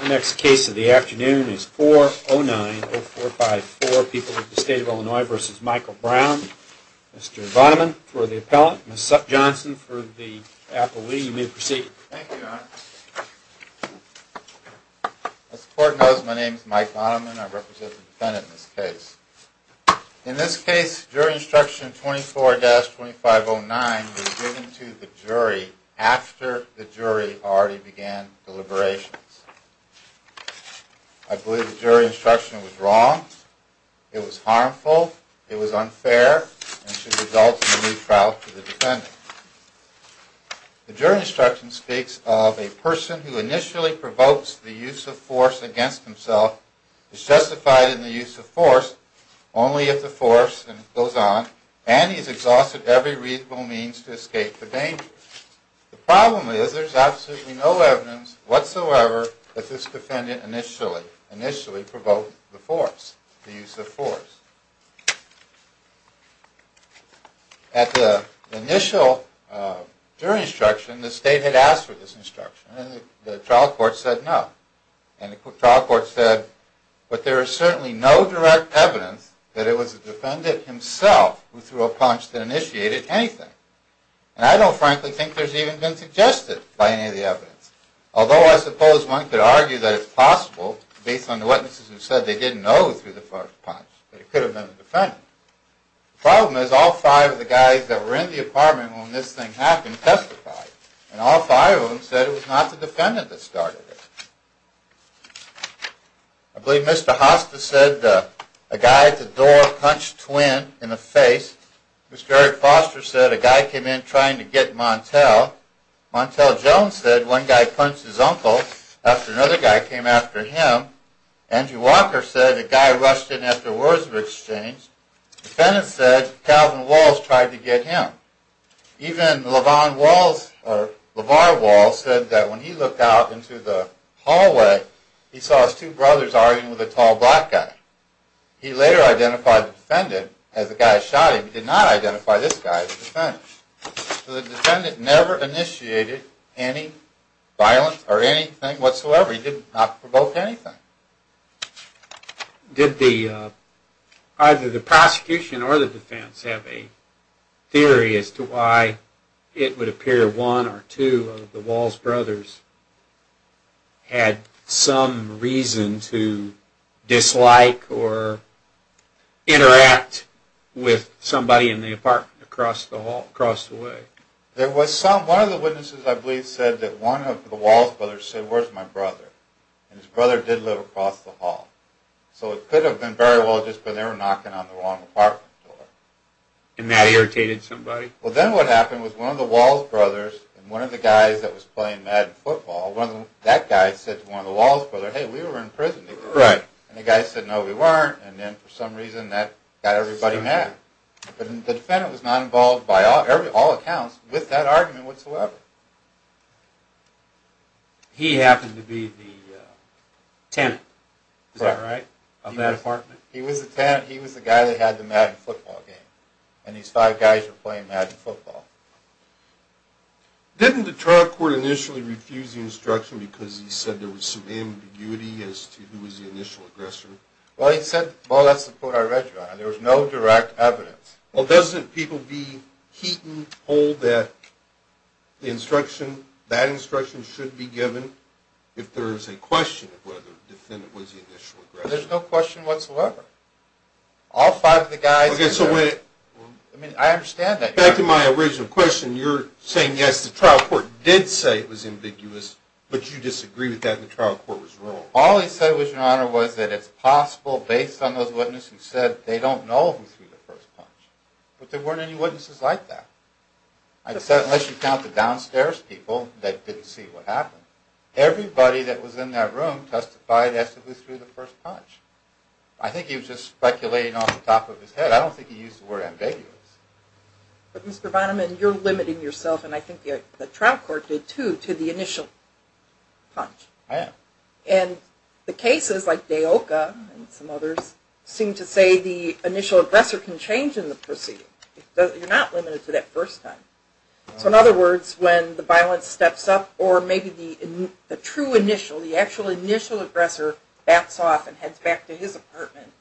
The next case of the afternoon is 4090454, People of the State of Illinois v. Michael Brown. Mr. Vonneman for the appellant, Ms. Sutton-Johnson for the appellee. You may proceed. Thank you, Your Honor. As the Court knows, my name is Mike Vonneman. I represent the defendant in this case. In this case, jury instruction 24-2509 was given to the jury after the jury already began deliberations. I believe the jury instruction was wrong, it was harmful, it was unfair, and should result in a new trial for the defendant. The jury instruction speaks of a person who initially provokes the use of force against himself is justified in the use of force only if the force, and it goes on, and he has exhausted every reasonable means to escape the danger. The problem is there is absolutely no evidence whatsoever that this defendant initially provoked the force, the use of force. At the initial jury instruction, the state had asked for this instruction, and the trial court said no. And the trial court said, but there is certainly no direct evidence that it was the defendant himself who threw a punch that initiated anything. And I don't frankly think there's even been suggested by any of the evidence, although I suppose one could argue that it's possible based on the witnesses who said they didn't know through the first punch that it could have been the defendant. The problem is all five of the guys that were in the apartment when this thing happened testified, and all five of them said it was not the defendant that started it. I believe Mr. Hosta said a guy at the door punched Twinn in the face. Mr. Eric Foster said a guy came in trying to get Montel. Montel Jones said one guy punched his uncle after another guy came after him. Angie Walker said a guy rushed in after words of exchange. The defendant said Calvin Walls tried to get him. Even LeVar Walls said that when he looked out into the hallway, he saw his two brothers arguing with a tall black guy. He later identified the defendant as the guy who shot him. He did not identify this guy as the defendant. So the defendant never initiated any violence or anything whatsoever. He did not provoke anything. Did either the prosecution or the defense have a theory as to why it would appear one or two of the Walls brothers had some reason to dislike or interact with somebody in the apartment across the way? One of the witnesses I believe said that one of the Walls brothers said, where's my brother? And his brother did live across the hall. So it could have been very well just that they were knocking on the wrong apartment door. And that irritated somebody? Well, then what happened was one of the Walls brothers and one of the guys that was playing Madden football, that guy said to one of the Walls brothers, hey, we were in prison. And the guy said, no, we weren't. And then for some reason that got everybody mad. But the defendant was not involved by all accounts with that argument whatsoever. He happened to be the tenant, is that right, of that apartment? He was the tenant. He was the guy that had the Madden football game. And these five guys were playing Madden football. Didn't the trial court initially refuse the instruction because he said there was some ambiguity as to who was the initial aggressor? Well, he said, well, that's the point I read you on. There was no direct evidence. Well, doesn't people be heaten, hold that the instruction, that instruction should be given if there is a question of whether the defendant was the initial aggressor? There's no question whatsoever. All five of the guys. Okay, so wait. I mean, I understand that. Back to my original question, you're saying, yes, the trial court did say it was ambiguous, but you disagree with that and the trial court was wrong. All he said was, Your Honor, was that it's possible based on those witnesses who said they don't know who threw the first punch. But there weren't any witnesses like that. Unless you count the downstairs people that didn't see what happened. Everybody that was in that room testified as to who threw the first punch. I think he was just speculating off the top of his head. I don't think he used the word ambiguous. But, Mr. Bonham, you're limiting yourself, and I think the trial court did, too, to the initial punch. I am. And the cases, like Deoka and some others, seem to say the initial aggressor can change in the proceeding. You're not limited to that first time. So, in other words, when the violence steps up, or maybe the true initial, the actual initial aggressor, backs off and heads back to his apartment,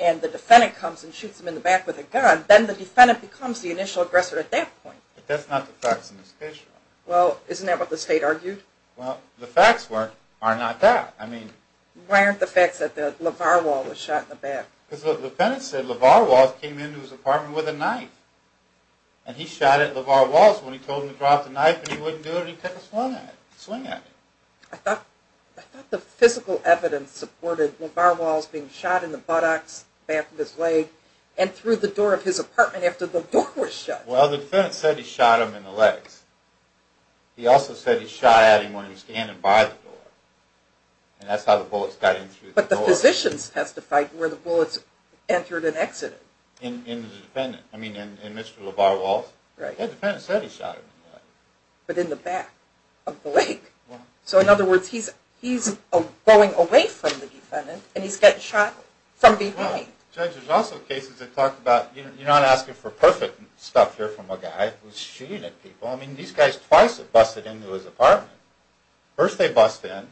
and the defendant comes and shoots him in the back with a gun, then the defendant becomes the initial aggressor at that point. But that's not the facts in this case, Your Honor. Well, isn't that what the state argued? Well, the facts are not that. Why aren't the facts that the LeVar Wall was shot in the back? Because the defendant said LeVar Wall came into his apartment with a knife. And he shot at LeVar Wall when he told him to drop the knife, and he wouldn't do it. He took a swing at it. I thought the physical evidence supported LeVar Wall's being shot in the buttocks, back of his leg, and through the door of his apartment after the door was shut. Well, the defendant said he shot him in the legs. He also said he shot at him when he was standing by the door. And that's how the bullets got in through the door. But the physicians testified where the bullets entered and exited. In the defendant. I mean, in Mr. LeVar Wall's. Right. The defendant said he shot him in the leg. But in the back of the leg. So in other words, he's going away from the defendant, and he's getting shot from behind. Judge, there's also cases that talk about, you're not asking for perfect stuff here from a guy who's shooting at people. Well, I mean, these guys twice have busted into his apartment. First they bust in.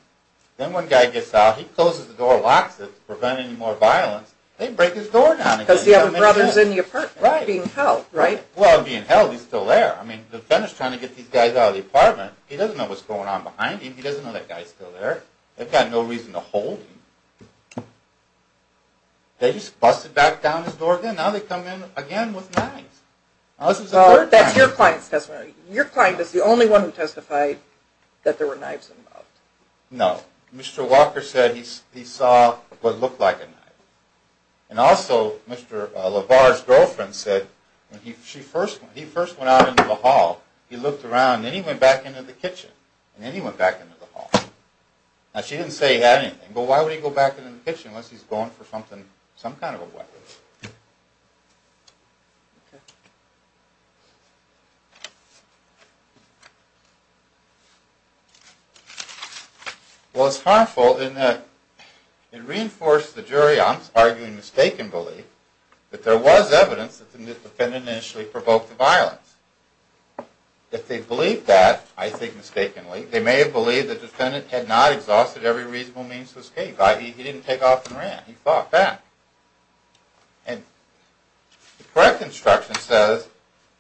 Then one guy gets out. He closes the door, locks it to prevent any more violence. They break his door down again. Because the other brother's in the apartment. Right. Being held, right? Well, being held, he's still there. I mean, the defendant's trying to get these guys out of the apartment. He doesn't know what's going on behind him. He doesn't know that guy's still there. They've got no reason to hold him. They just busted back down his door again. Now they come in again with knives. That's your client's testimony. Your client is the only one who testified that there were knives involved. No. Mr. Walker said he saw what looked like a knife. And also, Mr. LaVar's girlfriend said when he first went out into the hall, he looked around. And then he went back into the kitchen. And then he went back into the hall. Now, she didn't say he had anything. But why would he go back into the kitchen unless he's going for some kind of a weapon? Well, it's harmful in that it reinforces the jury, I'm arguing mistaken belief, that there was evidence that the defendant initially provoked the violence. If they believed that, I think mistakenly, they may have believed the defendant had not exhausted every reasonable means to escape. I.e., he didn't take off and ran. He fought back. And the correct instruction says,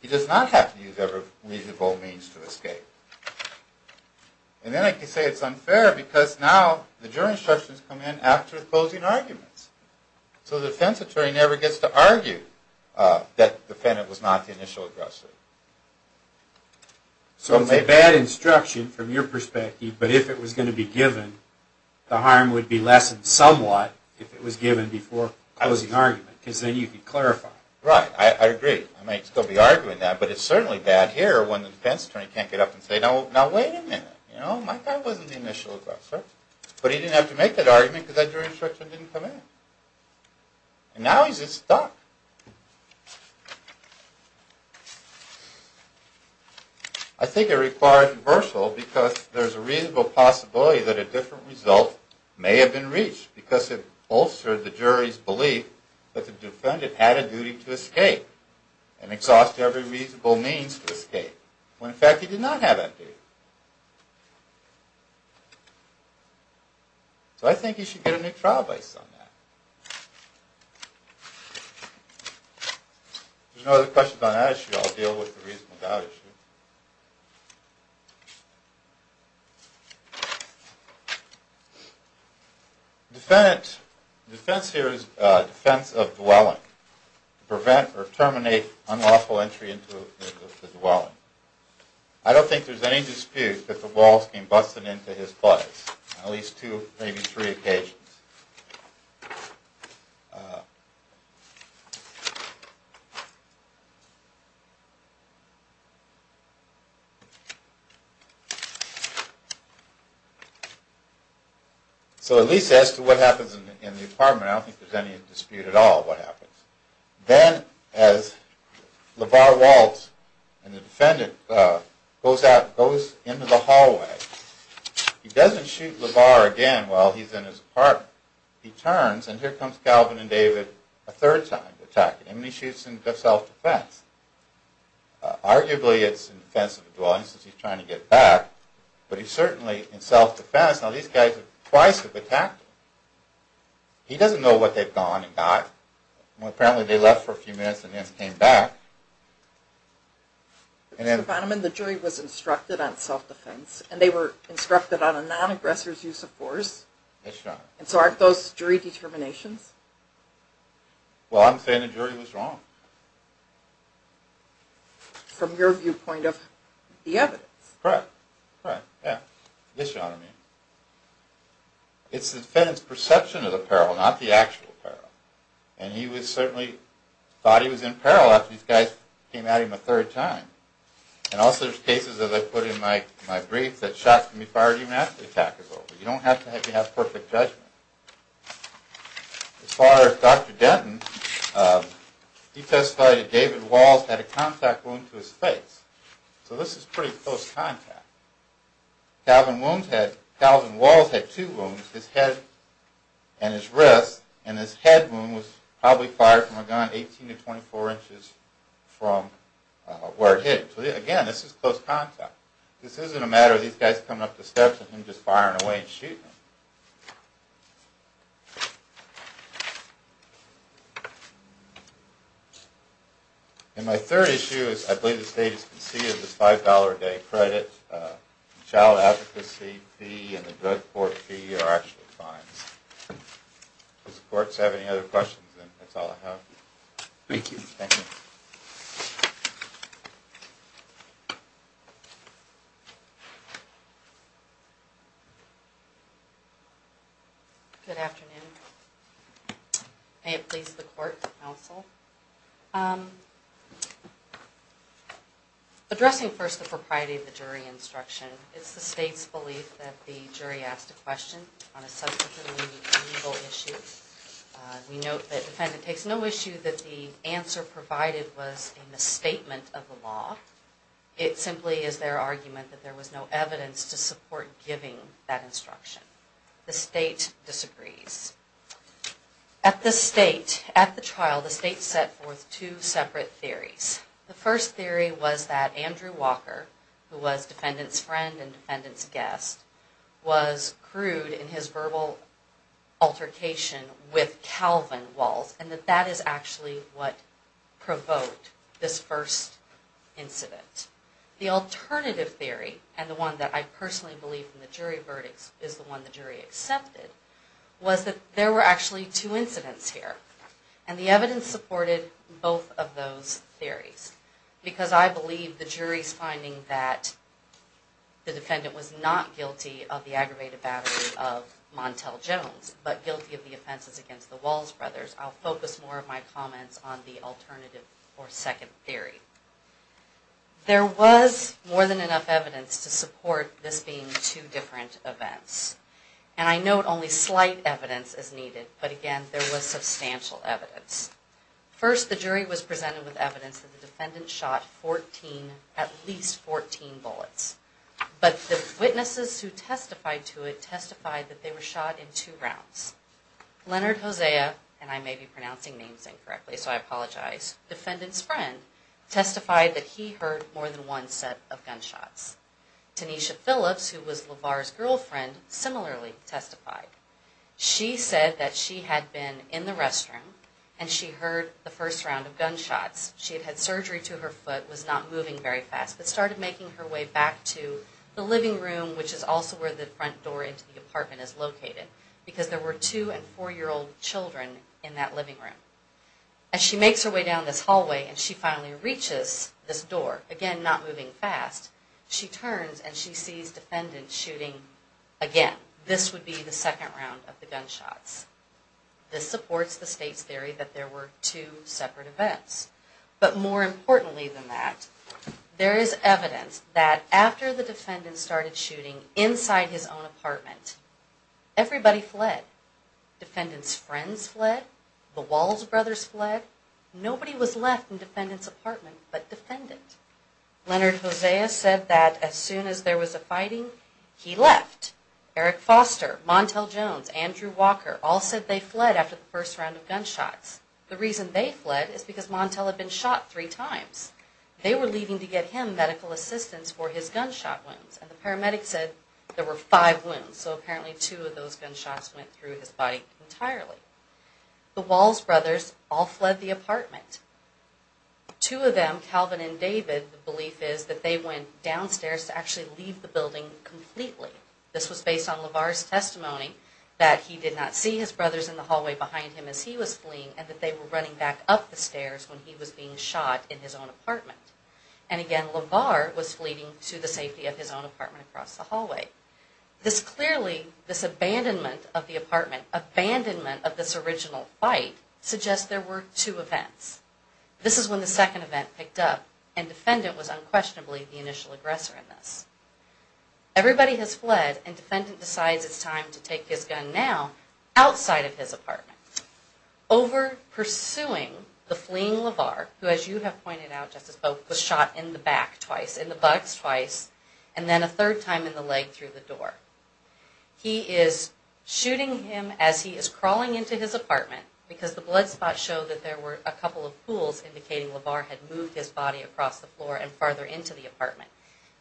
he does not have to use every reasonable means to escape. And then I can say it's unfair because now the jury instructions come in after the closing arguments. So the defense attorney never gets to argue that the defendant was not the initial aggressor. So it's a bad instruction from your perspective, but if it was going to be given, the harm would be lessened somewhat if it was given before closing argument, because then you could clarify. Right, I agree. I may still be arguing that, but it's certainly bad here when the defense attorney can't get up and say, now wait a minute, you know, my guy wasn't the initial aggressor. But he didn't have to make that argument because that jury instruction didn't come in. And now he's just stuck. I think it requires reversal because there's a reasonable possibility that a different result may have been reached because it bolstered the jury's belief that the defendant had a duty to escape and exhaust every reasonable means to escape, when in fact he did not have that duty. So I think you should get a new trial based on that. If there's no other questions on that issue, I'll deal with the reasonable doubt issue. The defense here is defense of dwelling, to prevent or terminate unlawful entry into the dwelling. I don't think there's any dispute that the Walls came busting into his place on at least two, maybe three occasions. So at least as to what happens in the apartment, I don't think there's any dispute at all what happens. Then as LaVar Walts and the defendant goes into the hallway, he doesn't shoot LaVar again while he's in his apartment. He turns and here comes Calvin and David a third time to attack him. And he shoots in self-defense. Arguably it's in defense of the dwelling since he's trying to get back, but he's certainly in self-defense. Now these guys have twice attacked him. He doesn't know what they've gone and got. Apparently they left for a few minutes and then came back. Mr. Bonneman, the jury was instructed on self-defense, and they were instructed on a non-aggressor's use of force. That's right. And so aren't those jury determinations? Well, I'm saying the jury was wrong. From your viewpoint of the evidence. Correct. Yes, Your Honor. It's the defendant's perception of the peril, not the actual peril. And he certainly thought he was in peril after these guys came at him a third time. And also there's cases, as I put in my brief, that shots can be fired even after the attack is over. You don't have to have perfect judgment. As far as Dr. Denton, he testified that David Walts had a contact wound to his face. So this is pretty close contact. Calvin Walls had two wounds, his head and his wrist. And his head wound was probably fired from a gun 18 to 24 inches from where it hit him. So again, this is close contact. This isn't a matter of these guys coming up the steps and him just firing away and shooting him. And my third issue is I believe the state has conceded this $5 a day credit. The child advocacy fee and the drug court fee are actually fines. Does the courts have any other questions? And that's all I have. Thank you. Thank you. Good afternoon. May it please the court, the counsel. Addressing first the propriety of the jury instruction, it's the state's belief that the jury asked a question on a subsequently legal issue. We note that the defendant takes no issue that the answer provided was a misstatement of the law. It simply is their argument that there was no evidence to support giving that instruction. The state disagrees. At the state, at the trial, the state set forth two separate theories. The first theory was that Andrew Walker, who was defendant's friend and defendant's guest, was crude in his verbal altercation with Calvin Walsh. And that that is actually what provoked this first incident. The alternative theory, and the one that I personally believe in the jury verdicts is the one the jury accepted, was that there were actually two incidents here. And the evidence supported both of those theories. Because I believe the jury's finding that the defendant was not guilty of the aggravated battery of Montel Jones, but guilty of the offenses against the Walls brothers. I'll focus more of my comments on the alternative or second theory. There was more than enough evidence to support this being two different events. And I note only slight evidence is needed. But again, there was substantial evidence. First, the jury was presented with evidence that the defendant shot 14, at least 14 bullets. But the witnesses who testified to it testified that they were shot in two rounds. Leonard Hosea, and I may be pronouncing names incorrectly, so I apologize, defendant's friend testified that he heard more than one set of gunshots. Tanisha Phillips, who was LaVar's girlfriend, similarly testified. She said that she had been in the restroom and she heard the first round of gunshots. She had had surgery to her foot, was not moving very fast, but started making her way back to the living room, which is also where the front door into the apartment is located. Because there were two and four-year-old children in that living room. As she makes her way down this hallway and she finally reaches this door, again not moving fast, she turns and she sees defendants shooting again. This would be the second round of the gunshots. This supports the state's theory that there were two separate events. But more importantly than that, there is evidence that after the defendant started shooting inside his own apartment, everybody fled. Defendant's friends fled. The Walls brothers fled. Nobody was left in defendant's apartment but defendant. Leonard Hosea said that as soon as there was a fighting, he left. Eric Foster, Montel Jones, Andrew Walker, all said they fled after the first round of gunshots. The reason they fled is because Montel had been shot three times. They were leaving to get him medical assistance for his gunshot wounds. And the paramedic said there were five wounds. So apparently two of those gunshots went through his body entirely. The Walls brothers all fled the apartment. Two of them, Calvin and David, the belief is that they went downstairs to actually leave the building completely. This was based on LaVar's testimony that he did not see his brothers in the hallway behind him as he was fleeing and that they were running back up the stairs when he was being shot in his own apartment. And again, LaVar was fleeing to the safety of his own apartment across the hallway. This clearly, this abandonment of the apartment, abandonment of this original fight, suggests there were two events. This is when the second event picked up and defendant was unquestionably the initial aggressor in this. Everybody has fled and defendant decides it's time to take his gun now outside of his apartment. Over pursuing the fleeing LaVar, who as you have pointed out Justice Boak, was shot in the back twice, in the buttocks twice, and then a third time in the leg through the door. He is shooting him as he is crawling into his apartment because the blood spots show that there were a couple of pools indicating LaVar had moved his body across the floor and farther into the apartment.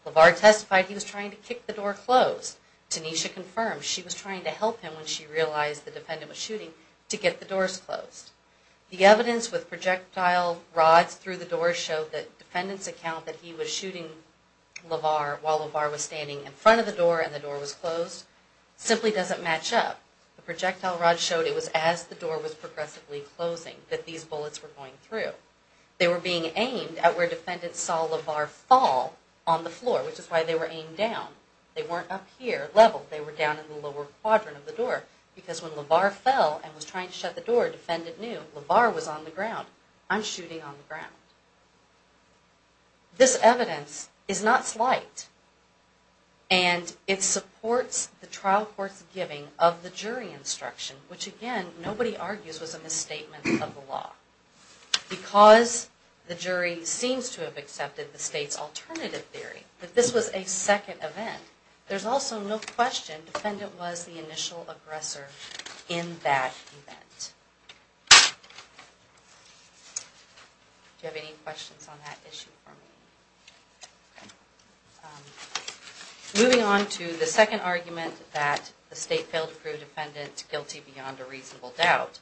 LaVar testified he was trying to kick the door closed. Tanisha confirmed she was trying to help him when she realized the defendant was shooting to get the doors closed. The evidence with projectile rods through the door showed that defendant's account that he was shooting LaVar while LaVar was standing in front of the door and the door was closed simply doesn't match up. The projectile rod showed it was as the door was progressively closing that these bullets were going through. They were being aimed at where defendant saw LaVar fall on the floor, which is why they were aimed down. They weren't up here level, they were down in the lower quadrant of the door because when LaVar fell and was trying to shut the door, defendant knew LaVar was on the ground. I'm shooting on the ground. This evidence is not slight, and it supports the trial court's giving of the jury instruction, which again, nobody argues was a misstatement of the law. Because the jury seems to have accepted the state's alternative theory, that this was a second event, there's also no question defendant was the initial aggressor in that event. Do you have any questions on that issue for me? Moving on to the second argument, that the state failed to prove defendant guilty beyond a reasonable doubt.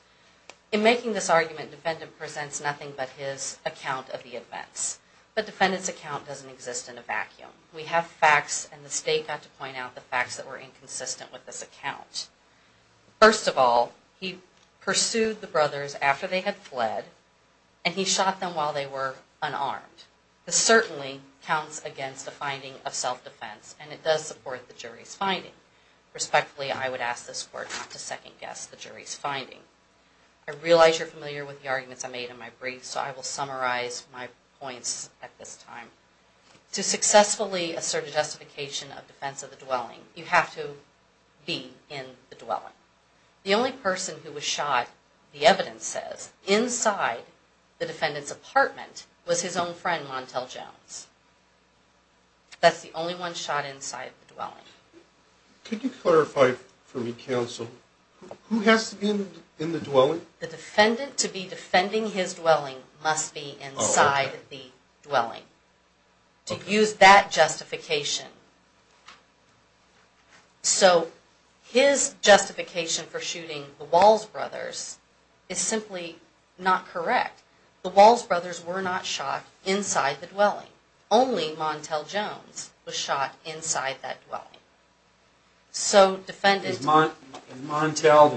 In making this argument, defendant presents nothing but his account of the events. But defendant's account doesn't exist in a vacuum. We have facts, and the state got to point out the facts that were inconsistent with this account. First of all, he pursued the brothers after they had fled, and he shot them while they were unarmed. This certainly counts against a finding of self-defense, and it does support the jury's finding. Respectfully, I would ask this court not to second-guess the jury's finding. I realize you're familiar with the arguments I made in my brief, so I will summarize my points at this time. To successfully assert a justification of defense of the dwelling, you have to be in the dwelling. The only person who was shot, the evidence says, inside the defendant's apartment was his own friend Montel Jones. That's the only one shot inside the dwelling. Could you clarify for me, counsel, who has to be in the dwelling? The defendant, to be defending his dwelling, must be inside the dwelling. To use that justification. So his justification for shooting the Walls brothers is simply not correct. The Walls brothers were not shot inside the dwelling. Is Montel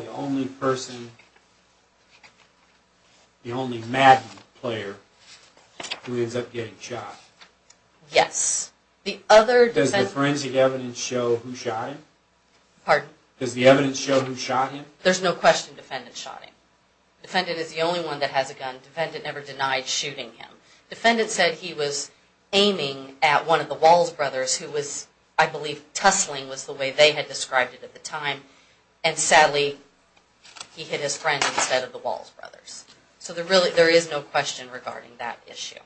the only person, the only Madden player, who ends up getting shot? Yes. Does the forensic evidence show who shot him? Pardon? Does the evidence show who shot him? There's no question the defendant shot him. The defendant is the only one that has a gun. The defendant never denied shooting him. The defendant said he was aiming at one of the Walls brothers, who was, I believe, tussling was the way they had described it at the time. And sadly, he hit his friend instead of the Walls brothers. So there is no question regarding that issue.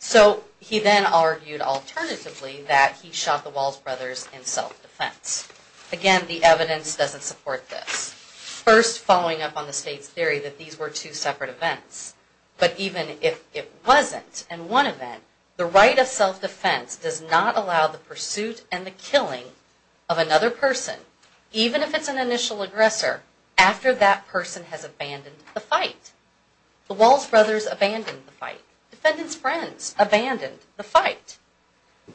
So he then argued alternatively that he shot the Walls brothers in self-defense. Again, the evidence doesn't support this. First, following up on the state's theory that these were two separate events. But even if it wasn't in one event, the right of self-defense does not allow the pursuit and the killing of another person, even if it's an initial aggressor, after that person has abandoned the fight. The Walls brothers abandoned the fight. Defendant's friends abandoned the fight.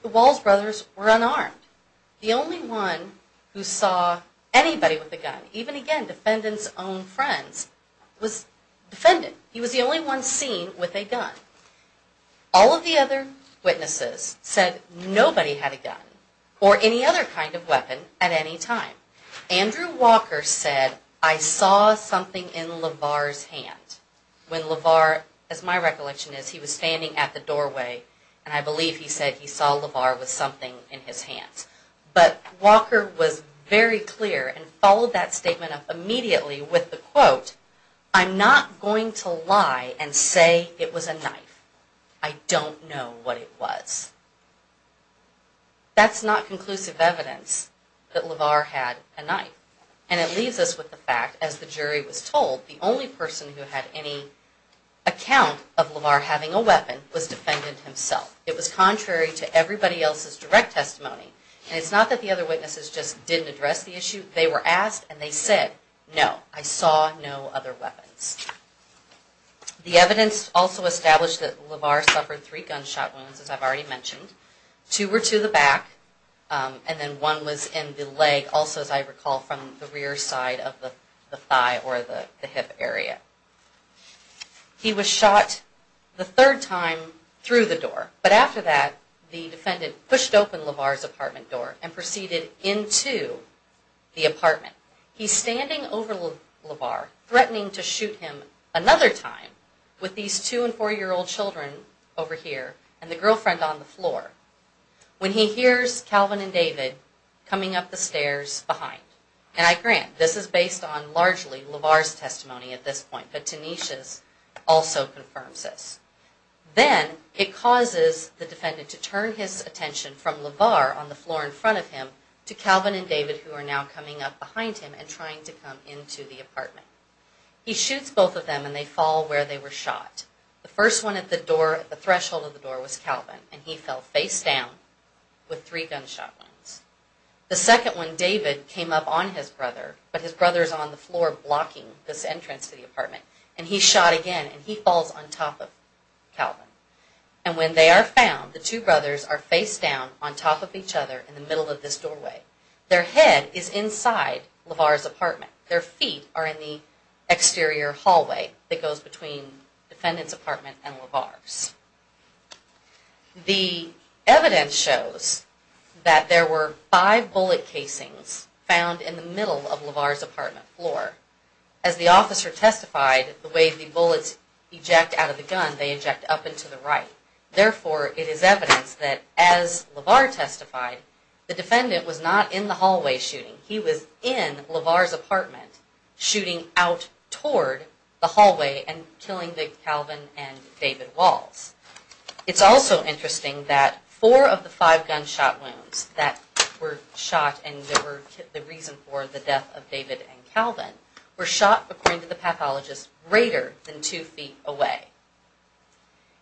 The Walls brothers were unarmed. The only one who saw anybody with a gun, even, again, defendant's own friends, was defendant. He was the only one seen with a gun. All of the other witnesses said nobody had a gun or any other kind of weapon at any time. Andrew Walker said, I saw something in LaVar's hand. When LaVar, as my recollection is, he was standing at the doorway, and I believe he said he saw LaVar with something in his hand. But Walker was very clear and followed that statement up immediately with the quote, I'm not going to lie and say it was a knife. I don't know what it was. That's not conclusive evidence that LaVar had a knife. And it leaves us with the fact, as the jury was told, the only person who had any account of LaVar having a weapon was defendant himself. It was contrary to everybody else's direct testimony. And it's not that the other witnesses just didn't address the issue. They were asked and they said, no, I saw no other weapons. The evidence also established that LaVar suffered three gunshot wounds, as I've already mentioned. Two were to the back and then one was in the leg, also, as I recall, from the rear side of the thigh or the hip area. He was shot the third time through the door. But after that, the defendant pushed open LaVar's apartment door and proceeded into the apartment. He's standing over LaVar, threatening to shoot him another time with these two- and four-year-old children over here and the girlfriend on the floor, when he hears Calvin and David coming up the stairs behind. And I grant, this is based on largely LaVar's testimony at this point, but Tanisha's also confirms this. Then it causes the defendant to turn his attention from LaVar on the floor in front of him to Calvin and David, who are now coming up behind him and trying to come into the apartment. He shoots both of them and they fall where they were shot. The first one at the threshold of the door was Calvin, and he fell face down with three gunshot wounds. The second one, David, came up on his brother, but his brother's on the floor blocking this entrance to the apartment. And he's shot again and he falls on top of Calvin. And when they are found, the two brothers are face down on top of each other in the middle of this doorway. Their head is inside LaVar's apartment. Their feet are in the exterior hallway that goes between the defendant's apartment and LaVar's. The evidence shows that there were five bullet casings found in the middle of LaVar's apartment floor. As the officer testified, the way the bullets eject out of the gun, they eject up and to the right. Therefore, it is evidence that as LaVar testified, the defendant was not in the hallway shooting. He was in LaVar's apartment shooting out toward the hallway and killing Calvin and David Walls. It's also interesting that four of the five gunshot wounds that were shot and were the reason for the death of David and Calvin were shot, according to the pathologist, greater than two feet away.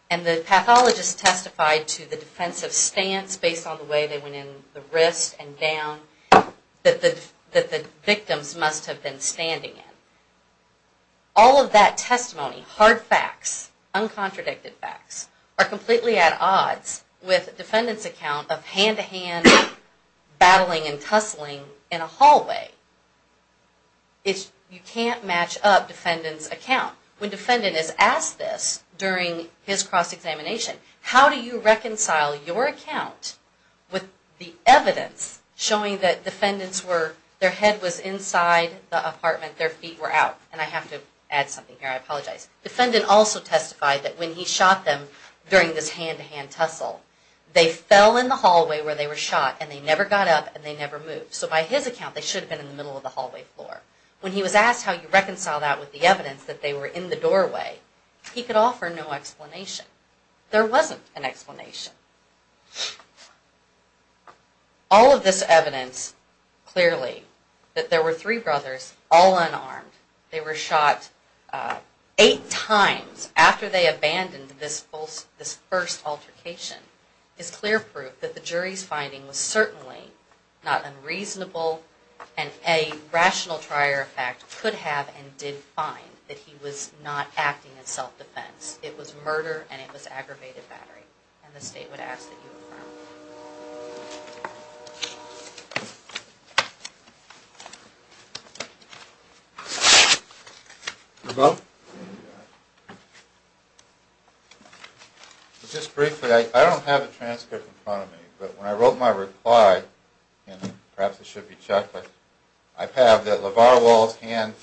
And the pathologist testified to the defensive stance based on the way they went in the wrist and down that the victims must have been standing in. All of that testimony, hard facts, uncontradicted facts, are completely at odds with the defendant's account of hand-to-hand battling and tussling in a hallway. You can't match up defendant's account. When defendant is asked this during his cross-examination, how do you reconcile your account with the evidence showing that their head was inside the apartment, their feet were out? And I have to add something here, I apologize. Defendant also testified that when he shot them during this hand-to-hand tussle, they fell in the hallway where they were shot and they never got up and they never moved. So by his account, they should have been in the middle of the hallway floor. When he was asked how he reconciled that with the evidence that they were in the doorway, he could offer no explanation. There wasn't an explanation. All of this evidence, clearly, that there were three brothers, all unarmed, they were shot eight times after they abandoned this first altercation, is clear proof that the jury's finding was certainly not unreasonable and a rational trier of fact could have and did find that he was not acting in self-defense. It was murder and it was aggravated battery. And the State would ask that you affirm. Hello? Hello? Just briefly, I don't have a transcript in front of me, but when I wrote my reply, and perhaps it should be checked, I have that LaVar Wall's hand,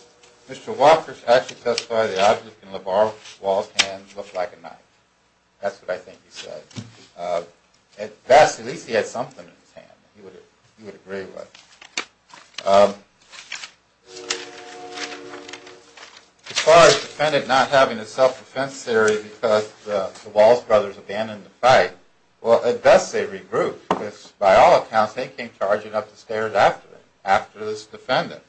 Mr. Walker actually testified that the object in LaVar Wall's hand looked like a knife. That's what I think he said. At best, at least he had something in his hand that he would agree with. LaVar's defendant not having a self-defense theory because the Walls brothers abandoned the fight, well, at best they regrouped, because by all accounts, they came charging up the stairs after this defendant.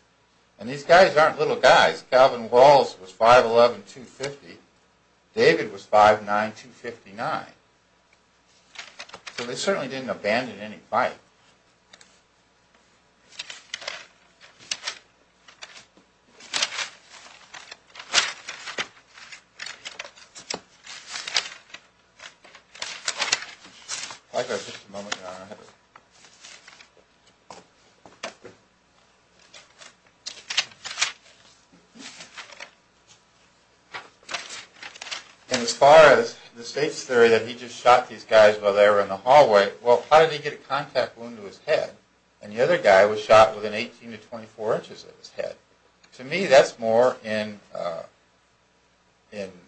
And these guys aren't little guys. Calvin Walls was 5'11", 250. David was 5'9", 259. So they certainly didn't abandon any fight. I've got just a moment, Your Honor. And as far as the State's theory that he just shot these guys while they were in the hallway, well, how did he get a contact wound to his head? And the other guy was shot within 18 to 24 inches of his head. To me, that's more in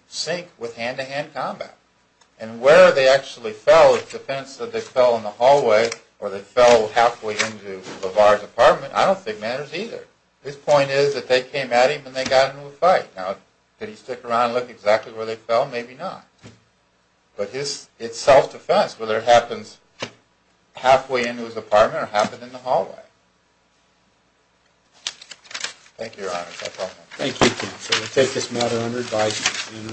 sync with hand-to-hand combat. And where they actually fell, the defense that they fell in the hallway or they fell halfway into LaVar's apartment, I don't think matters either. His point is that they came at him and they got into a fight. Now, did he stick around and look exactly where they fell? Maybe not. But it's self-defense, whether it happens halfway into his apartment or halfway in the hallway. Thank you, Your Honor. No problem. Thank you, counsel. We'll take this matter under advisement. The hearing is adjourned.